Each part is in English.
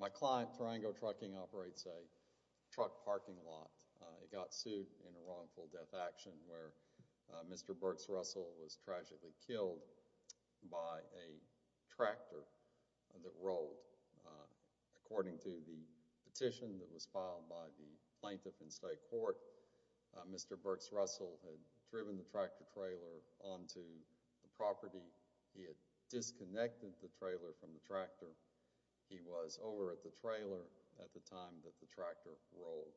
My client, Tarango Trucking, operates a truck parking lot. It got sued in a wrongful death action where Mr. Burks-Russell was tragically killed by a tractor that rolled. According to the petition that was filed by the plaintiff in state court, Mr. Burks-Russell had driven the tractor trailer onto the property. He had disconnected the trailer from the tractor. He was over at the trailer at the time that the tractor rolled.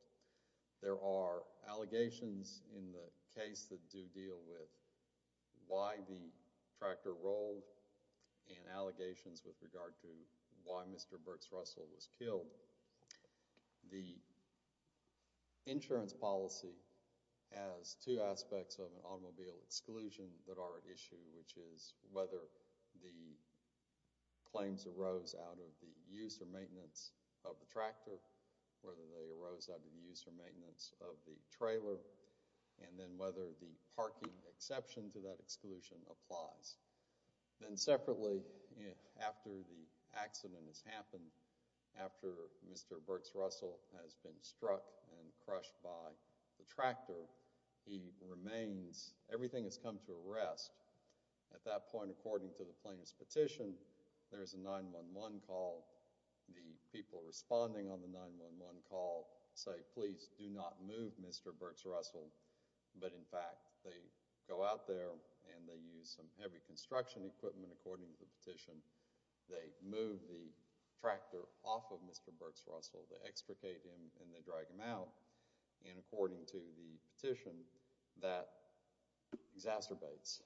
There are allegations in the case that do deal with why the tractor rolled and allegations with regard to why Mr. Burks-Russell was killed. The insurance policy has two aspects of automobile exclusion that are at issue, which is whether the claims arose out of the use or maintenance of the tractor, whether they arose out of the use or maintenance of the trailer, and then whether the parking exception to that exclusion applies. Then separately, after the accident has happened, after Mr. Burks-Russell has been struck and crushed by the tractor, he remains, everything has come to a rest. At that point, according to the plaintiff's petition, there is a 911 call. The people responding on the 911 call say, please do not move Mr. Burks-Russell, but in fact, they go out there and they use some heavy construction equipment, according to the petition. They move the tractor off of Mr. Burks-Russell. They extricate him and they drag him out, and according to the petition, that exacerbates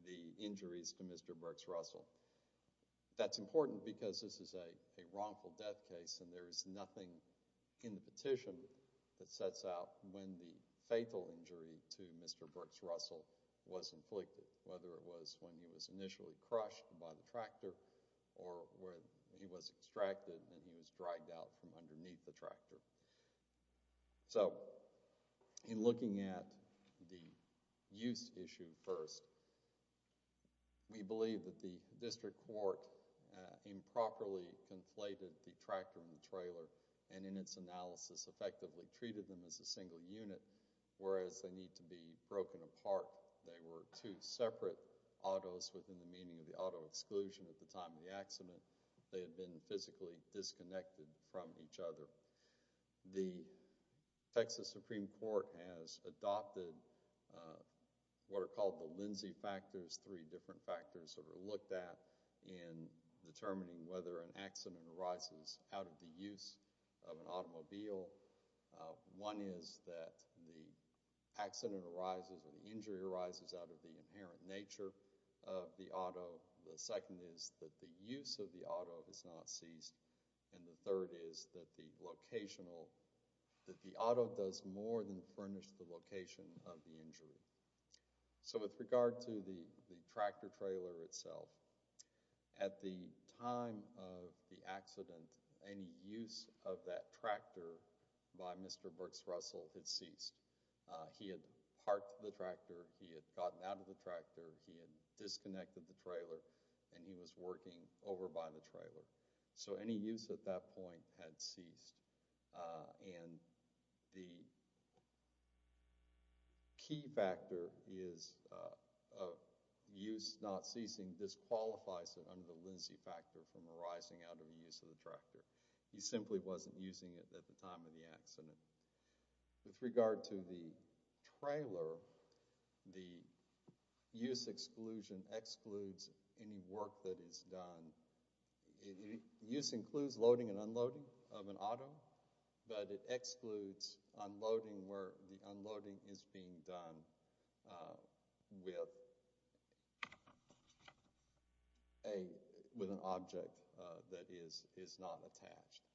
the injuries to Mr. Burks-Russell. That's important because this is a wrongful death case and there is nothing in the petition that sets out when the fatal injury to Mr. Burks-Russell was inflicted, whether it was when he was initially crushed by the tractor or when he was extracted and he was dragged out from underneath the tractor. So, in looking at the use issue first, we believe that the district court improperly conflated the tractor and the trailer, and in its analysis, effectively treated them as a single unit, whereas they need to be broken apart. They were two separate autos within the meaning of the auto exclusion at the time of the accident. They had been physically disconnected from each other. The Texas Supreme Court has adopted what are called the Lindsay factors, three different factors that are looked at in determining whether an accident arises out of the use of an automobile. One is that the accident arises or the injury arises out of the inherent nature of the auto. The second is that the injury ceased, and the third is that the auto does more than furnish the location of the injury. So, with regard to the tractor-trailer itself, at the time of the accident, any use of that tractor by Mr. Burks-Russell had ceased. He had parked the tractor, he had gotten out of the tractor, he had disconnected the trailer, and he was working over by the trailer. So, any use at that point had ceased, and the key factor is use not ceasing disqualifies it under the Lindsay factor from arising out of the use of the tractor. He simply wasn't using it at the time of the accident. With regard to the trailer, the use exclusion excludes any work that is done. Use includes loading and unloading of an auto, but it excludes unloading where the unloading is being done with an object that is not attached.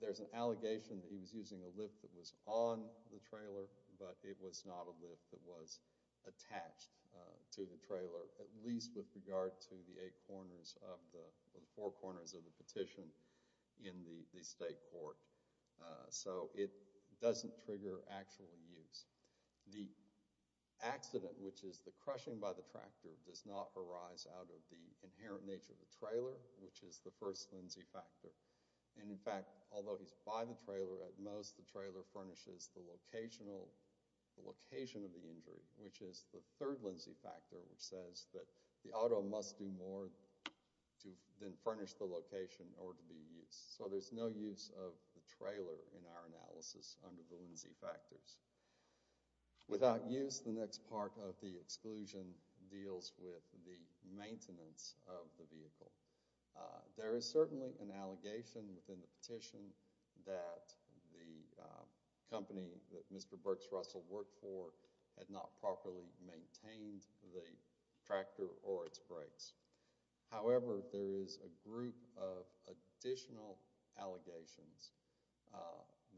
There's an allegation that he was using a lift that was on the trailer, but it was not a lift that was attached to the trailer, at least with regard to the four corners of the petition in the state court. So, it doesn't trigger actual use. The accident, which is the crushing by the tractor, does not arise out of the inherent nature of the trailer, which is the first Lindsay factor. In fact, although he's by the trailer at most, the trailer furnishes the location of the injury, which is the third Lindsay factor, which says that the auto must do more to then furnish the location or to be used. So, there's no use of the trailer in our analysis under the Lindsay factors. Without use, the next part of the exclusion deals with the maintenance of the vehicle. There is certainly an allegation within the company that Mr. Burks Russell worked for had not properly maintained the tractor or its brakes. However, there is a group of additional allegations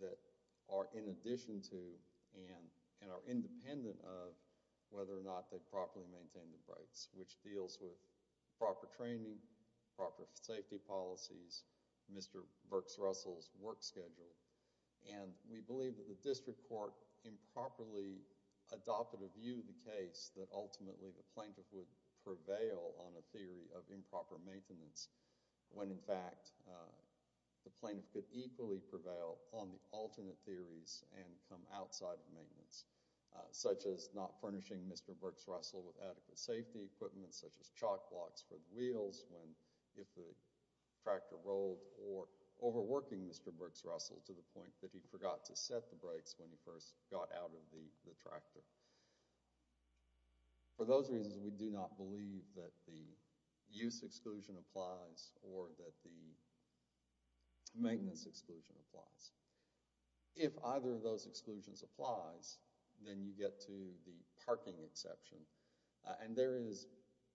that are in addition to and are independent of whether or not they properly maintained the brakes, which deals with proper We believe that the district court improperly adopted a view in the case that ultimately the plaintiff would prevail on a theory of improper maintenance, when in fact the plaintiff could equally prevail on the alternate theories and come outside of maintenance, such as not furnishing Mr. Burks Russell with adequate safety equipment, such as chalk blocks for wheels if the tractor rolled, or overworking Mr. Burks Russell to the point that he forgot to set the brakes when he first got out of the tractor. For those reasons, we do not believe that the use exclusion applies or that the maintenance exclusion applies. If either of those exclusions applies, then you get to the parking exception. And there is,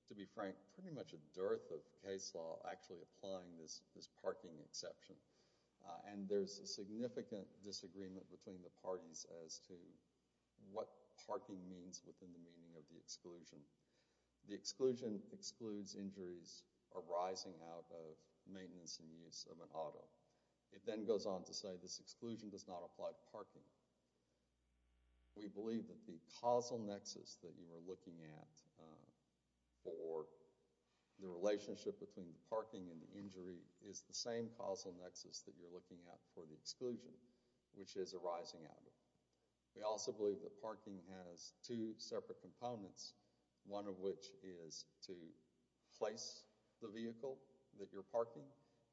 to be frank, pretty much a dearth of case law actually applying this parking exception. And there's a significant disagreement between the parties as to what parking means within the meaning of the exclusion. The exclusion excludes injuries arising out of maintenance and use of an auto. It then goes on to say this exclusion does not apply to parking. We believe that the causal nexus that you are looking at for the relationship between parking and injury is the same causal nexus that you're looking at for the exclusion, which is arising out of it. We also believe that parking has two separate components, one of which is to place the vehicle that you're parking,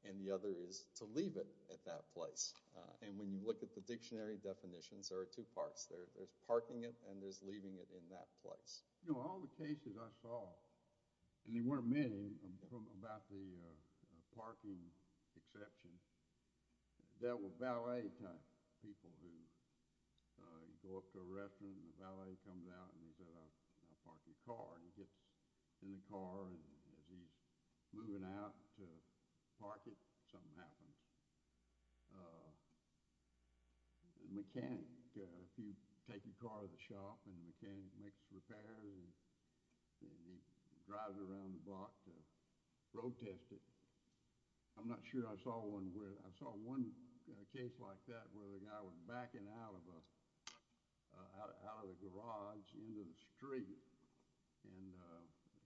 and the other is to leave it at that place. And when you look at the dictionary definitions, there are two parts. There's parking it and there's leaving it in that place. You know, all the cases I saw, and there weren't many about the parking exception, there were valet type people who go up to a restaurant and the valet comes out and says I'll park your car. And he gets in the car and as he's moving out to park it, something happens. A mechanic, if you take your car to the shop and the mechanic makes a repair and he drives it around the block, road test it. I'm not sure I saw one where, I saw one case like that where the guy was backing out of a garage into the street and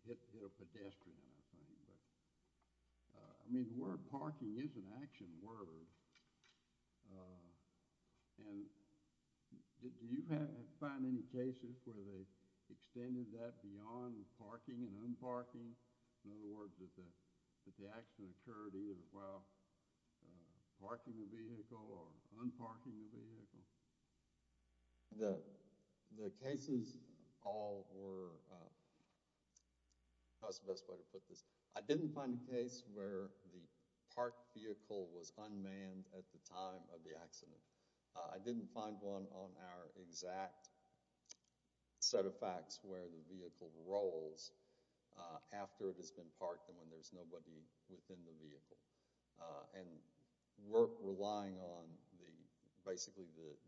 hit a pedestrian or something like that. I mean, the word parking is an action word. And do you find any cases where they extended that beyond parking and unparking? In other words, that the action occurred either while parking the vehicle or unparking the vehicle? The cases all were, how's the best way to put this? I didn't find a case where the parked vehicle was unmanned at the time of the accident. I didn't find one on our exact set of facts where the vehicle rolls after it has been parked and when there's nobody within the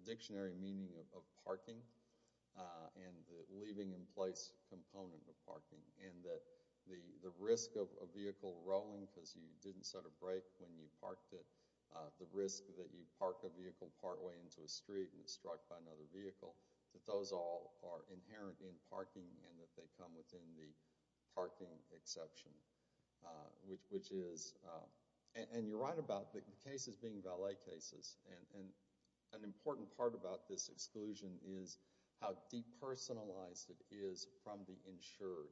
dictionary meaning of parking and the leaving in place component of parking and that the risk of a vehicle rolling because you didn't set a brake when you parked it, the risk that you park a vehicle partway into a street and it's struck by another vehicle, that those all are inherent in parking and that they come within the parking exception. And you're important part about this exclusion is how depersonalized it is from the insured.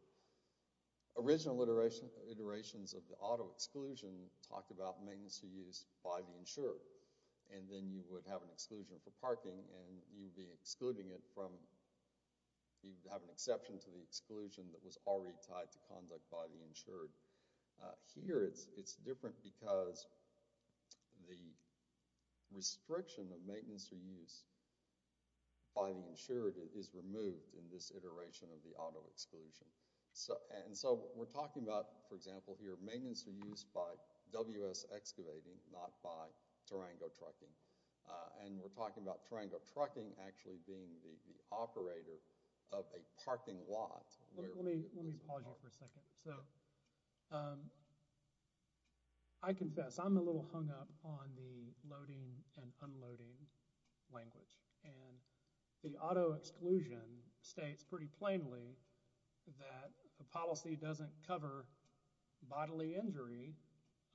Original iterations of the auto exclusion talked about maintenance to use by the insured. And then you would have an exclusion for parking and you'd be excluding it from, you'd have an exception to the exclusion that was already tied to conduct by the insured. Here it's different because the restriction of maintenance to use by the insured is removed in this iteration of the auto exclusion. And so we're talking about, for example here, maintenance to use by WS excavating not by tarango trucking. And we're talking about tarango trucking actually being the operator of a parking lot. Let me pause you for a second. So I confess I'm a little hung up on the loading and unloading language. And the auto exclusion states pretty plainly that a policy doesn't cover bodily injury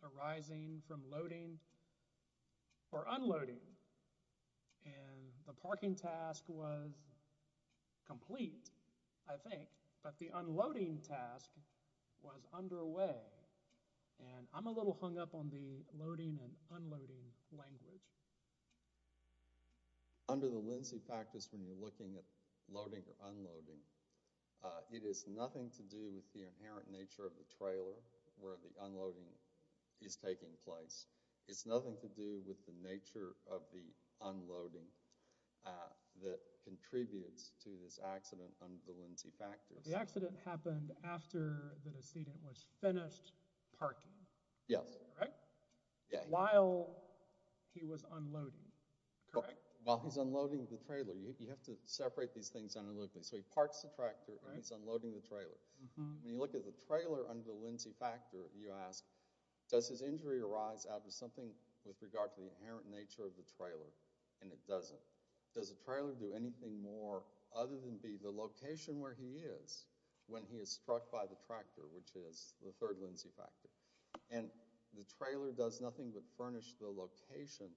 arising from loading or unloading. And the parking task was complete, I think, but the unloading task was underway. And I'm a little hung up on the loading and unloading language. Under the Lindsay practice when you're looking at loading or unloading, it has nothing to do with where the unloading is taking place. It's nothing to do with the nature of the unloading that contributes to this accident under the Lindsay practice. The accident happened after the decedent was finished parking. Yes. While he was unloading, correct? While he was unloading the trailer. You have to separate these things analytically. So he parks the tractor and he's unloading the trailer. When you look at the trailer under the Lindsay practice, you ask, does his injury arise out of something with regard to the inherent nature of the trailer? And it doesn't. Does the trailer do anything more other than be the location where he is when he is struck by the tractor, which is the third Lindsay practice? And the trailer does nothing but furnish the location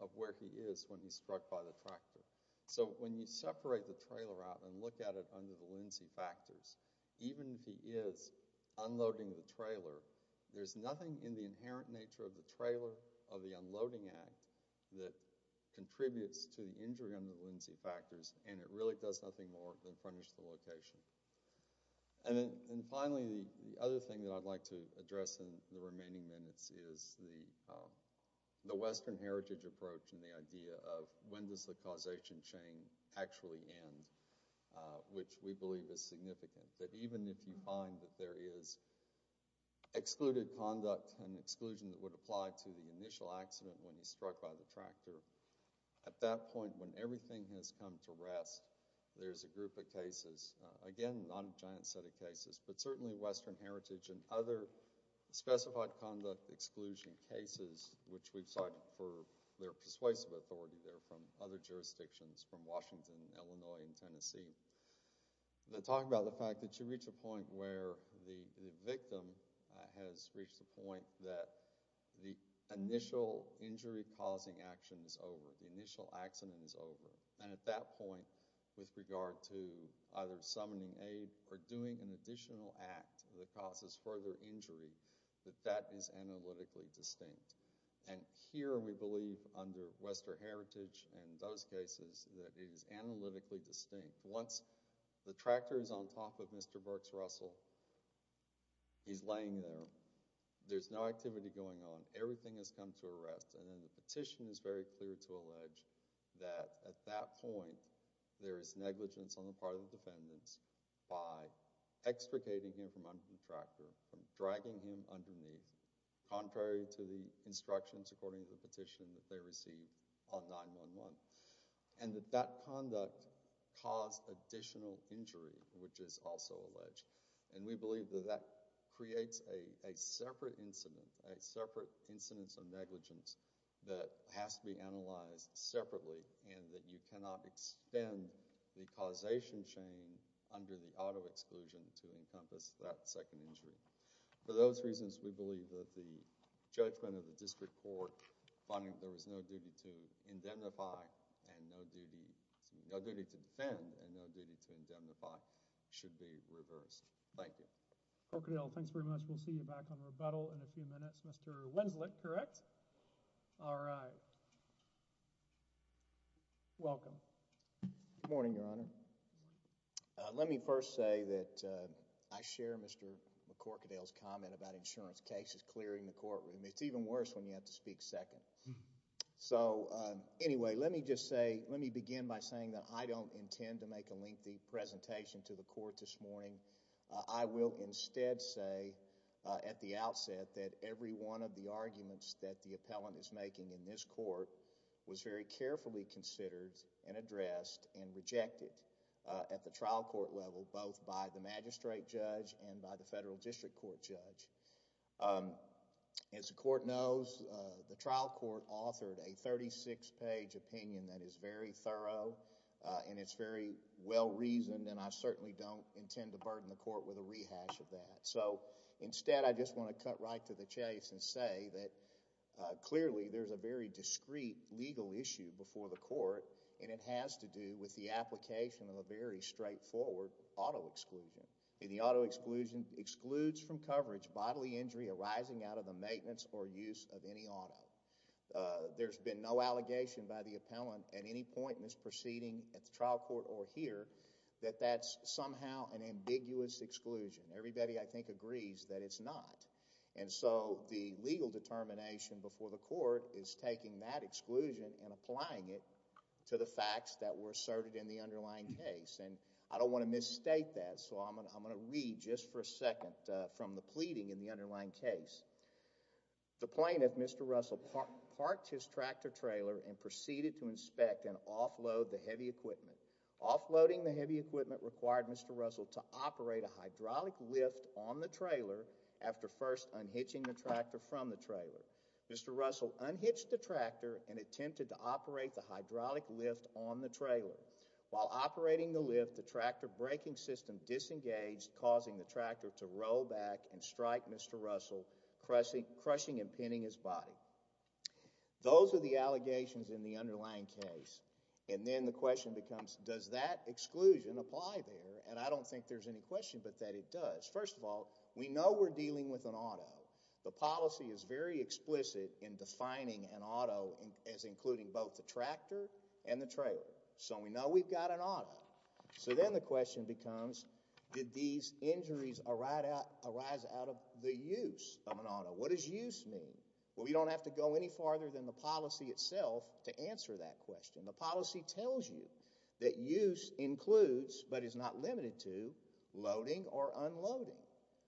of where he is when he's struck by the tractor. So when you separate the trailer out and look at it under the Lindsay practice, even if he is unloading the trailer, there's nothing in the inherent nature of the trailer of the unloading act that contributes to the injury under the Lindsay factors and it really does nothing more than furnish the location. And finally, the other thing that I'd like to address in the remaining minutes is the Western heritage approach and the idea of when does the causation chain actually end, which we believe is significant, that even if you find that there is excluded conduct and exclusion that would apply to the initial accident when he's struck by the tractor, at that point when everything has come to rest, there's a group of cases, again, not a giant set of cases, but certainly Western heritage and other specified conduct exclusion cases, which we've cited for their persuasive authority there from other jurisdictions, from Washington, Illinois, and Tennessee, that talk about the fact that you reach a point where the victim has reached the point that the initial injury-causing action is over, the initial accident is over, and at that point, with regard to either summoning aid or doing an additional act that causes further injury, that that is analytically distinct. And here we believe, under Western heritage and those cases, that it is analytically distinct. Once the tractor is on top of Mr. Burks Russell, he's laying there, there's no activity going on, everything has come to a rest, and then the petition is very clear to allege that at that point, there is negligence on the part of the defendants by extricating him from under the tractor, from dragging him underneath, contrary to the instructions according to the petition that they received on 9-1-1, and that that conduct caused additional injury, which is also alleged. And we believe that that creates a separate incident, a separate incidence of negligence that has to be analyzed separately, and that you cannot extend the causation chain under the auto exclusion to encompass that second injury. For those reasons, we believe that the judgment of the district court, finding that there was no duty to indemnify and no duty, no duty to defend and no duty to indemnify, should be reversed. Thank you. Corkadel, thanks very much. We'll see you back on rebuttal in a few minutes. Mr. Winslet, correct? All right. Welcome. Good morning, Your Honor. Let me first say that I share Mr. Corkadel's comment about insurance cases clearing the courtroom. It's even worse when you have to speak second. So, anyway, let me just say, let me begin by saying that I don't intend to make a lengthy presentation to the court this morning. I will instead say at the outset that every one of the arguments that the appellant is trial court level, both by the magistrate judge and by the federal district court judge. As the court knows, the trial court authored a thirty-six page opinion that is very thorough and it's very well reasoned and I certainly don't intend to burden the court with a rehash of that. So, instead, I just want to cut right to the chase and say that clearly there's a very straightforward auto exclusion. The auto exclusion excludes from coverage bodily injury arising out of the maintenance or use of any auto. There's been no allegation by the appellant at any point in this proceeding at the trial court or here that that's somehow an ambiguous exclusion. Everybody, I think, agrees that it's not. And so, the legal determination before the court is taking that exclusion and applying it to the facts that were asserted in the underlying case. And I don't want to misstate that, so I'm going to read just for a second from the pleading in the underlying case. The plaintiff, Mr. Russell, parked his tractor trailer and proceeded to inspect and offload the heavy equipment. Offloading the heavy equipment required Mr. Russell to operate a hydraulic lift on the trailer after first unhitching the tractor from the trailer. Mr. Russell unhitched the tractor and attempted to operate the hydraulic lift on the trailer. While operating the lift, the tractor braking system disengaged, causing the tractor to roll back and strike Mr. Russell, crushing and pinning his body. Those are the allegations in the underlying case. And then the question becomes, does that exclusion apply there? And I don't think there's any question but that it does. First of all, we know we're dealing with an auto. The policy is very explicit in defining an auto as including both the tractor and the trailer. So we know we've got an auto. So then the question becomes, did these injuries arise out of the use of an auto? What does use mean? Well, we don't have to go any farther than the policy itself to answer that question. The policy tells you that use includes, but is not limited to, loading or unloading.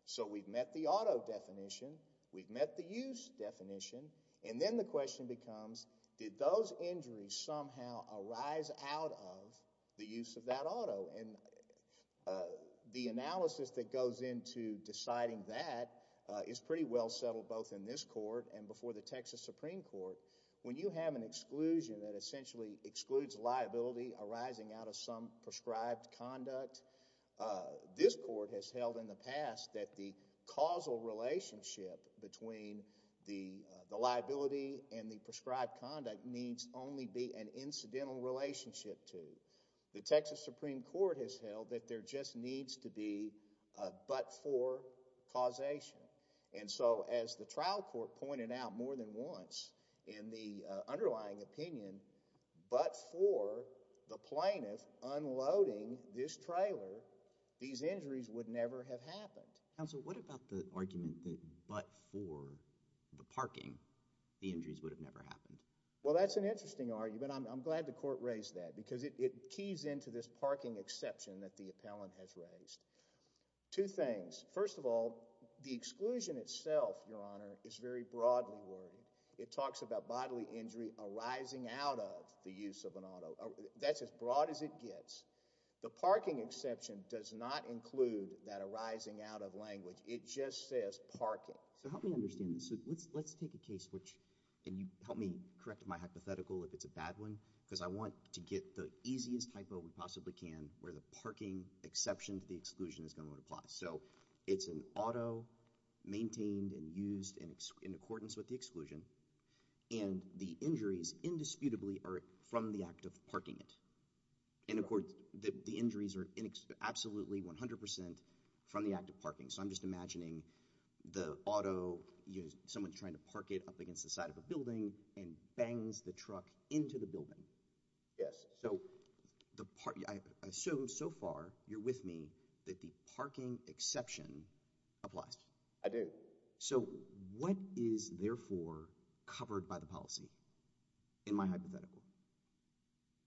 So we've met the auto definition. We've met the use definition. And then the question becomes, did those injuries somehow arise out of the use of that auto? And the analysis that goes into deciding that is pretty well settled both in this court and before the Texas Supreme Court. When you have an exclusion that essentially excludes liability arising out of some prescribed conduct, this court has held in the past that the causal relationship between the liability and the prescribed conduct needs only be an incidental relationship to. The Texas Supreme Court has held that there just needs to be a but-for causation. And so as the trial court pointed out more than once in the underlying opinion, but for the plaintiff unloading this trailer, these injuries would never have happened. Counsel, what about the argument that but for the parking, the injuries would have never happened? Well, that's an interesting argument. I'm glad the court raised that because it keys into this parking exception that the appellant has raised. Two things. First of all, the exclusion itself, Your Honor, is very broadly worded. It talks about bodily injury arising out of the use of an auto. That's as broad as it gets. The parking exception does not include that arising out of language. It just says parking. So help me understand this. Let's take a case which—and you help me correct my hypothetical if it's a bad one because I want to get the easiest hypo we possibly can where the parking exception to the exclusion is going to apply. So it's an auto maintained and used in accordance with the exclusion, and the injuries indisputably are from the act of parking it. The injuries are absolutely 100 percent from the act of parking. So I'm just imagining the auto, someone's trying to park it up against the side of a building and bangs the truck into the building. Yes. So I assume so far you're with me that the parking exception applies. I do. So what is therefore covered by the policy in my hypothetical?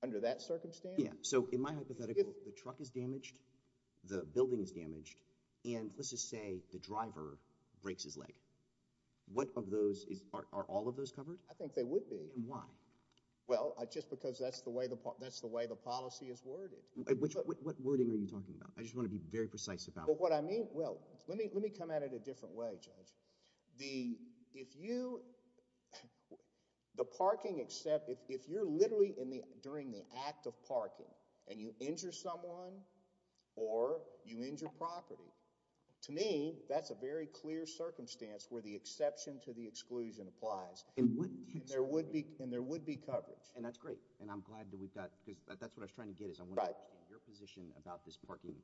Under that circumstance? So in my hypothetical, the truck is damaged, the building is damaged, and let's just say the driver breaks his leg. What of those—are all of those covered? I think they would be. And why? Well, just because that's the way the policy is worded. What wording are you talking about? I just want to be very precise about it. If you—the parking—if you're literally during the act of parking and you injure someone or you injure property, to me that's a very clear circumstance where the exception to the exclusion applies. And there would be coverage. And that's great. And I'm glad that we've got—because that's what I was trying to get at. Right. Mr. Epstein, your position about this parking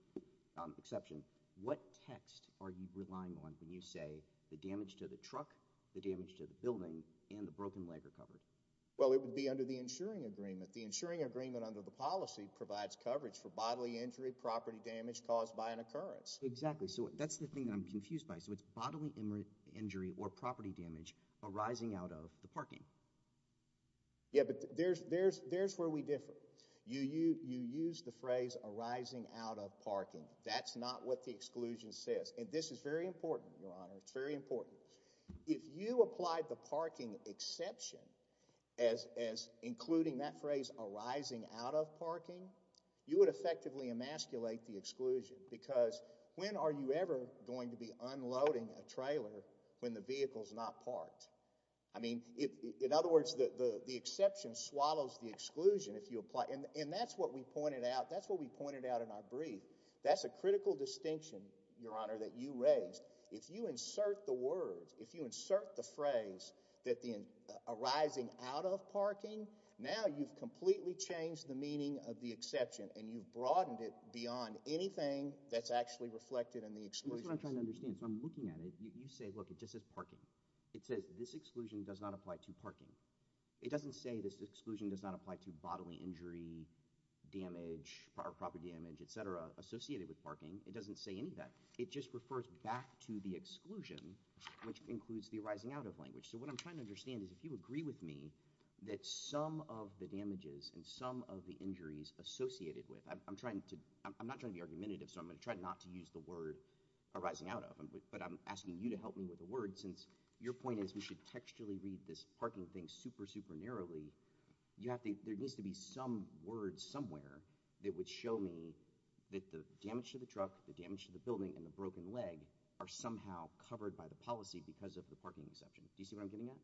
exception. What text are you relying on when you say the damage to the truck, the damage to the building, and the broken leg are covered? Well, it would be under the insuring agreement. The insuring agreement under the policy provides coverage for bodily injury, property damage caused by an occurrence. Exactly. So that's the thing that I'm confused by. So it's bodily injury or property damage arising out of the parking. Yeah, but there's where we differ. You use the phrase arising out of parking. That's not what the exclusion says. And this is very important, Your Honor. It's very important. If you applied the parking exception as including that phrase arising out of parking, you would effectively emasculate the exclusion because when are you ever going to be unloading a trailer when the vehicle's not parked? I mean, in other words, the exception swallows the exclusion if you apply it. And that's what we pointed out. That's what we pointed out in our brief. That's a critical distinction, Your Honor, that you raised. If you insert the words, if you insert the phrase arising out of parking, now you've completely changed the meaning of the exception, and you've broadened it beyond anything that's actually reflected in the exclusion. That's what I'm trying to understand. So I'm looking at it. You say, look, it just says parking. It says this exclusion does not apply to parking. It doesn't say this exclusion does not apply to bodily injury, damage, proper damage, et cetera, associated with parking. It doesn't say any of that. It just refers back to the exclusion, which includes the arising out of language. So what I'm trying to understand is if you agree with me that some of the damages and some of the injuries associated with – I'm not trying to be argumentative, so I'm going to try not to use the word arising out of, but I'm asking you to help me with a word since your point is we should textually read this parking thing super, super narrowly. There needs to be some word somewhere that would show me that the damage to the truck, the damage to the building, and the broken leg are somehow covered by the policy because of the parking exception. Do you see what I'm getting at?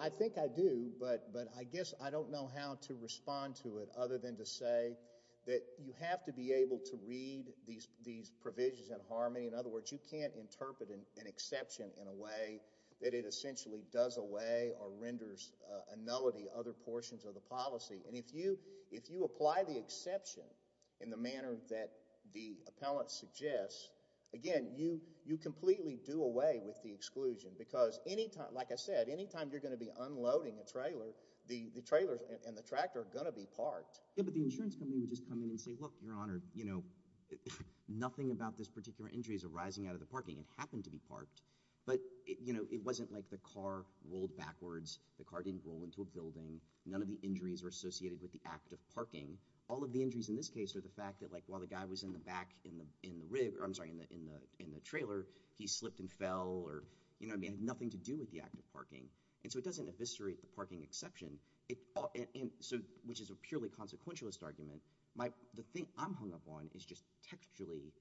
I think I do, but I guess I don't know how to respond to it other than to say that you have to be able to read these provisions in harmony. In other words, you can't interpret an exception in a way that it essentially does away or renders a nullity other portions of the policy. And if you apply the exception in the manner that the appellant suggests, again, you completely do away with the exclusion because, like I said, any time you're going to be unloading a trailer, the trailer and the tractor are going to be parked. Yeah, but the insurance company would just come in and say, look, Your Honor, nothing about this particular injury is arising out of the parking. It happened to be parked, but it wasn't like the car rolled backwards. The car didn't roll into a building. None of the injuries are associated with the act of parking. All of the injuries in this case are the fact that while the guy was in the back in the trailer, he slipped and fell or had nothing to do with the act of parking. And so it doesn't eviscerate the parking exception, which is a purely consequentialist argument. The thing I'm hung up on is just textually.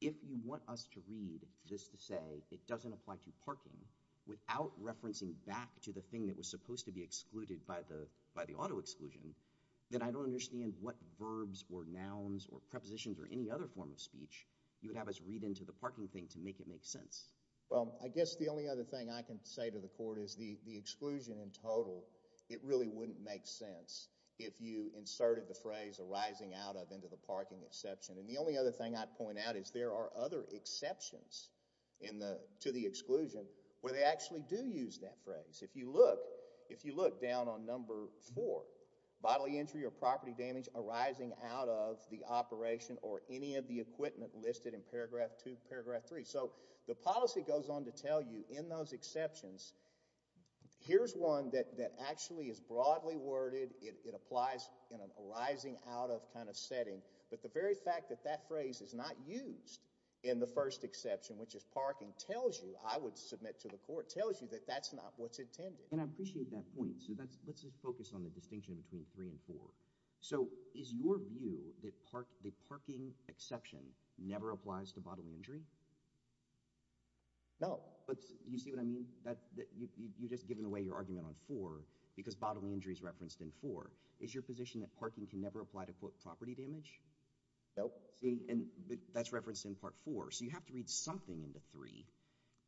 If you want us to read this to say it doesn't apply to parking without referencing back to the thing that was supposed to be excluded by the auto exclusion, then I don't understand what verbs or nouns or prepositions or any other form of speech you would have us read into the parking thing to make it make sense. Well, I guess the only other thing I can say to the court is the exclusion in total, it really wouldn't make sense if you inserted the phrase arising out of into the parking exception. And the only other thing I'd point out is there are other exceptions to the exclusion where they actually do use that phrase. If you look down on number four, bodily injury or property damage arising out of the operation or any of the equipment listed in paragraph two, paragraph three. So the policy goes on to tell you in those exceptions. Here's one that actually is broadly worded. It applies in an arising out of kind of setting. But the very fact that that phrase is not used in the first exception, which is parking, tells you I would submit to the court tells you that that's not what's intended. And I appreciate that point. So let's just focus on the distinction between three and four. So is your view that parking exception never applies to bodily injury? No. But you see what I mean? You've just given away your argument on four because bodily injury is referenced in four. Is your position that parking can never apply to, quote, property damage? No. See, and that's referenced in part four. So you have to read something into three.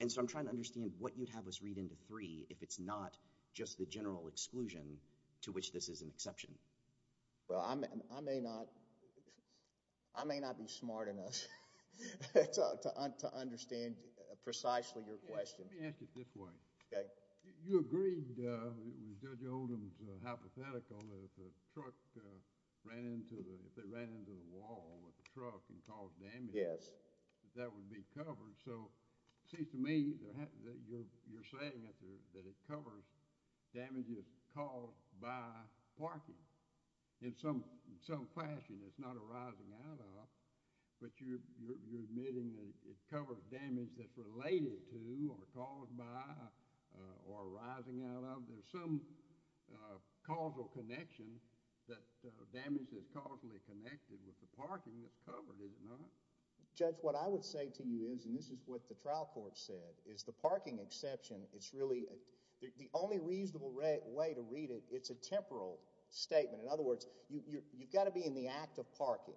And so I'm trying to understand what you'd have us read into three if it's not just the general exclusion to which this is an exception. Well, I may not be smart enough to understand precisely your question. Let me ask it this way. Okay. You agreed with Judge Oldham's hypothetical that if a truck ran into the wall with a truck and caused damage, that would be covered. So it seems to me that you're saying that it covers damages caused by parking. In some fashion, it's not arising out of, but you're admitting that it covers damage that's related to or caused by or arising out of. There's some causal connection that damage is causally connected with the parking that's covered, is it not? Judge, what I would say to you is, and this is what the trial court said, is the parking exception, it's really – the only reasonable way to read it, it's a temporal statement. In other words, you've got to be in the act of parking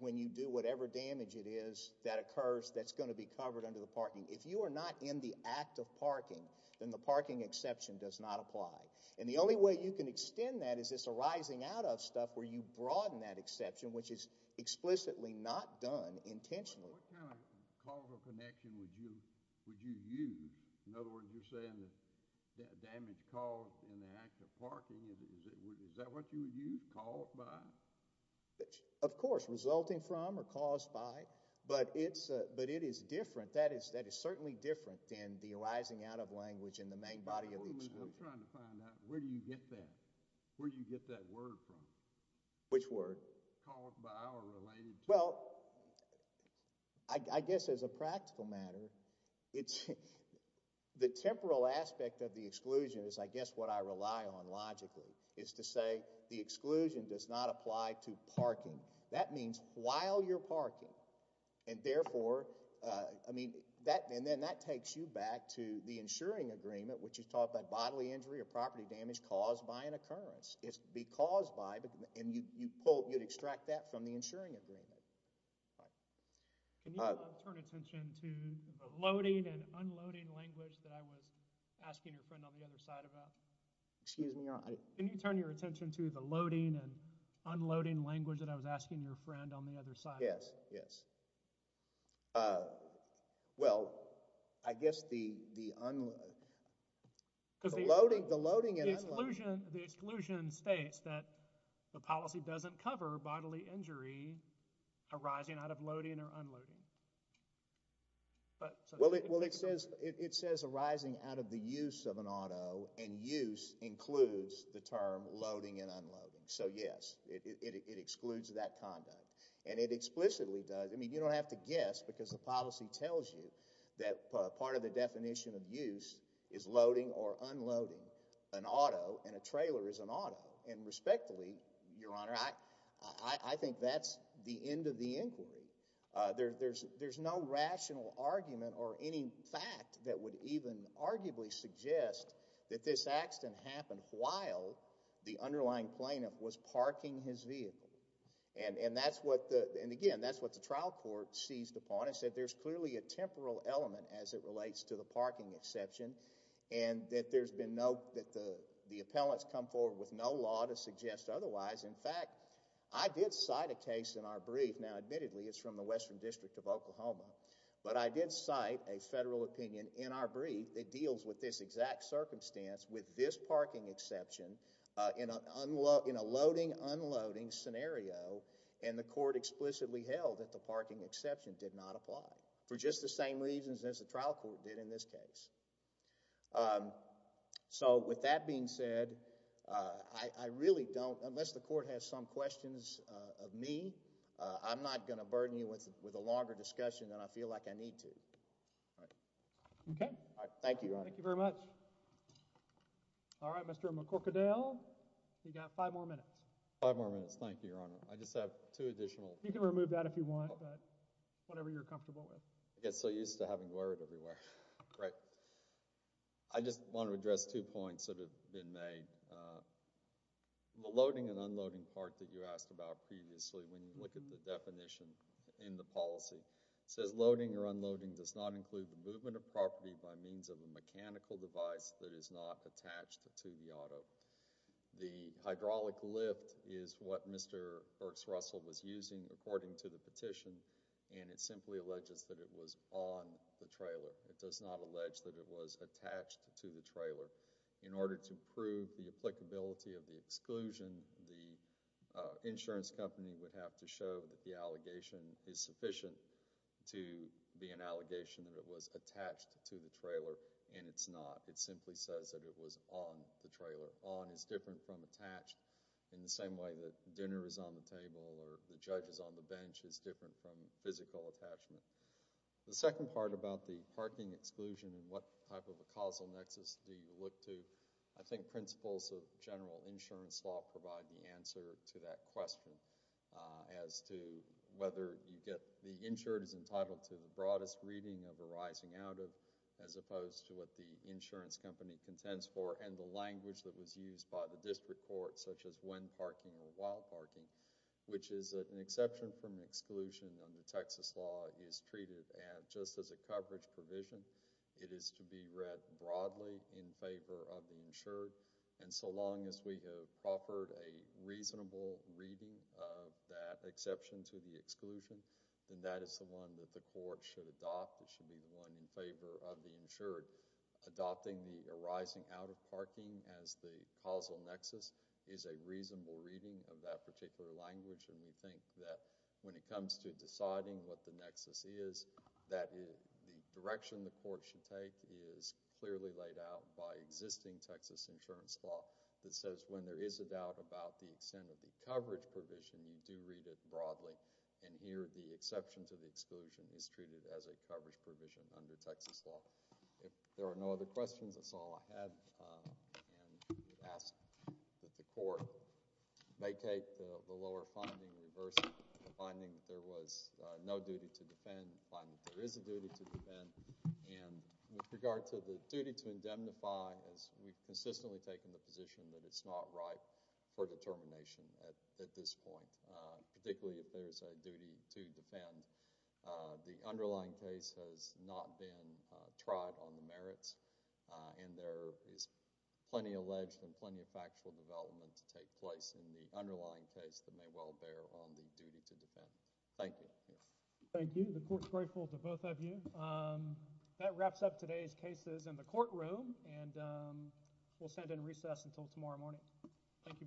when you do whatever damage it is that occurs that's going to be covered under the parking. If you are not in the act of parking, then the parking exception does not apply. And the only way you can extend that is this arising out of stuff where you broaden that exception, which is explicitly not done intentionally. What kind of causal connection would you use? In other words, you're saying that damage caused in the act of parking, is that what you would use? Caused by? Of course, resulting from or caused by. But it is different. That is certainly different than the arising out of language in the main body of the exception. I'm trying to find out, where do you get that? Where do you get that word from? Which word? Caused by or related to. Well, I guess as a practical matter, the temporal aspect of the exclusion is I guess what I rely on logically, is to say the exclusion does not apply to parking. That means while you're parking, and therefore, I mean, and then that takes you back to the insuring agreement, which is taught by bodily injury or property damage caused by an occurrence. It's because by, and you pull, you'd extract that from the insuring agreement. Can you turn attention to the loading and unloading language that I was asking your friend on the other side about? Excuse me? Can you turn your attention to the loading and unloading language that I was asking your friend on the other side about? Yes, yes. Well, I guess the unloading, the loading and unloading. The exclusion states that the policy doesn't cover bodily injury arising out of loading or unloading. Well, it says arising out of the use of an auto, and use includes the term loading and unloading. So yes, it excludes that conduct, and it explicitly does. I mean, you don't have to guess because the policy tells you that part of the definition of use is loading or unloading. It says an auto and a trailer is an auto, and respectfully, Your Honor, I think that's the end of the inquiry. There's no rational argument or any fact that would even arguably suggest that this accident happened while the underlying plaintiff was parking his vehicle. And, again, that's what the trial court seized upon and said there's clearly a temporal element as it relates to the parking exception and that there's been no, that the appellants come forward with no law to suggest otherwise. In fact, I did cite a case in our brief. Now, admittedly, it's from the Western District of Oklahoma, but I did cite a federal opinion in our brief that deals with this exact circumstance with this parking exception in a loading-unloading scenario, and the court explicitly held that the parking exception did not apply for just the same reasons as the trial court did in this case. So, with that being said, I really don't, unless the court has some questions of me, I'm not going to burden you with a longer discussion than I feel like I need to. Thank you, Your Honor. Thank you very much. All right, Mr. McCorkadale, you've got five more minutes. Five more minutes. Thank you, Your Honor. I just have two additional. You can remove that if you want, but whatever you're comfortable with. I get so used to having to wear it everywhere. Right. I just want to address two points that have been made. The loading and unloading part that you asked about previously when you look at the definition in the policy, it says loading or unloading does not include the movement of property by means of a mechanical device that is not attached to the auto. The hydraulic lift is what Mr. Burks-Russell was using according to the petition, and it simply alleges that it was on the trailer. It does not allege that it was attached to the trailer. In order to prove the applicability of the exclusion, the insurance company would have to show that the allegation is sufficient to be an allegation that it was attached to the trailer, and it's not. It simply says that it was on the trailer. On is different from attached in the same way that dinner is on the table or the judge is on the bench. It's different from physical attachment. The second part about the parking exclusion and what type of a causal nexus do you look to, I think principles of general insurance law provide the answer to that question as to whether the insured is entitled to the broadest reading of arising out of as opposed to what the insurance company contends for and the language that was used by the district court such as when parking or while parking, which is that an exception from an exclusion under Texas law is treated just as a coverage provision. It is to be read broadly in favor of the insured, and so long as we have offered a reasonable reading of that exception to the exclusion, then that is the one that the court should adopt. It should be the one in favor of the insured. Adopting the arising out of parking as the causal nexus is a reasonable reading of that particular language, and we think that when it comes to deciding what the nexus is, that the direction the court should take is clearly laid out by existing Texas insurance law that says when there is a doubt about the extent of the coverage provision, you do read it broadly. Here, the exception to the exclusion is treated as a coverage provision under Texas law. If there are no other questions, that's all I have. We ask that the court vacate the lower finding, reverse the finding that there was no duty to defend, find that there is a duty to defend. With regard to the duty to indemnify, we've consistently taken the position that it's not right for determination at this point, particularly if there's a duty to defend. The underlying case has not been tried on the merits, and there is plenty alleged and plenty of factual development to take place in the underlying case that may well bear on the duty to defend. Thank you. Thank you. The court's grateful to both of you. That wraps up today's cases in the courtroom, and we'll send in recess until tomorrow morning. Thank you both. Thank you.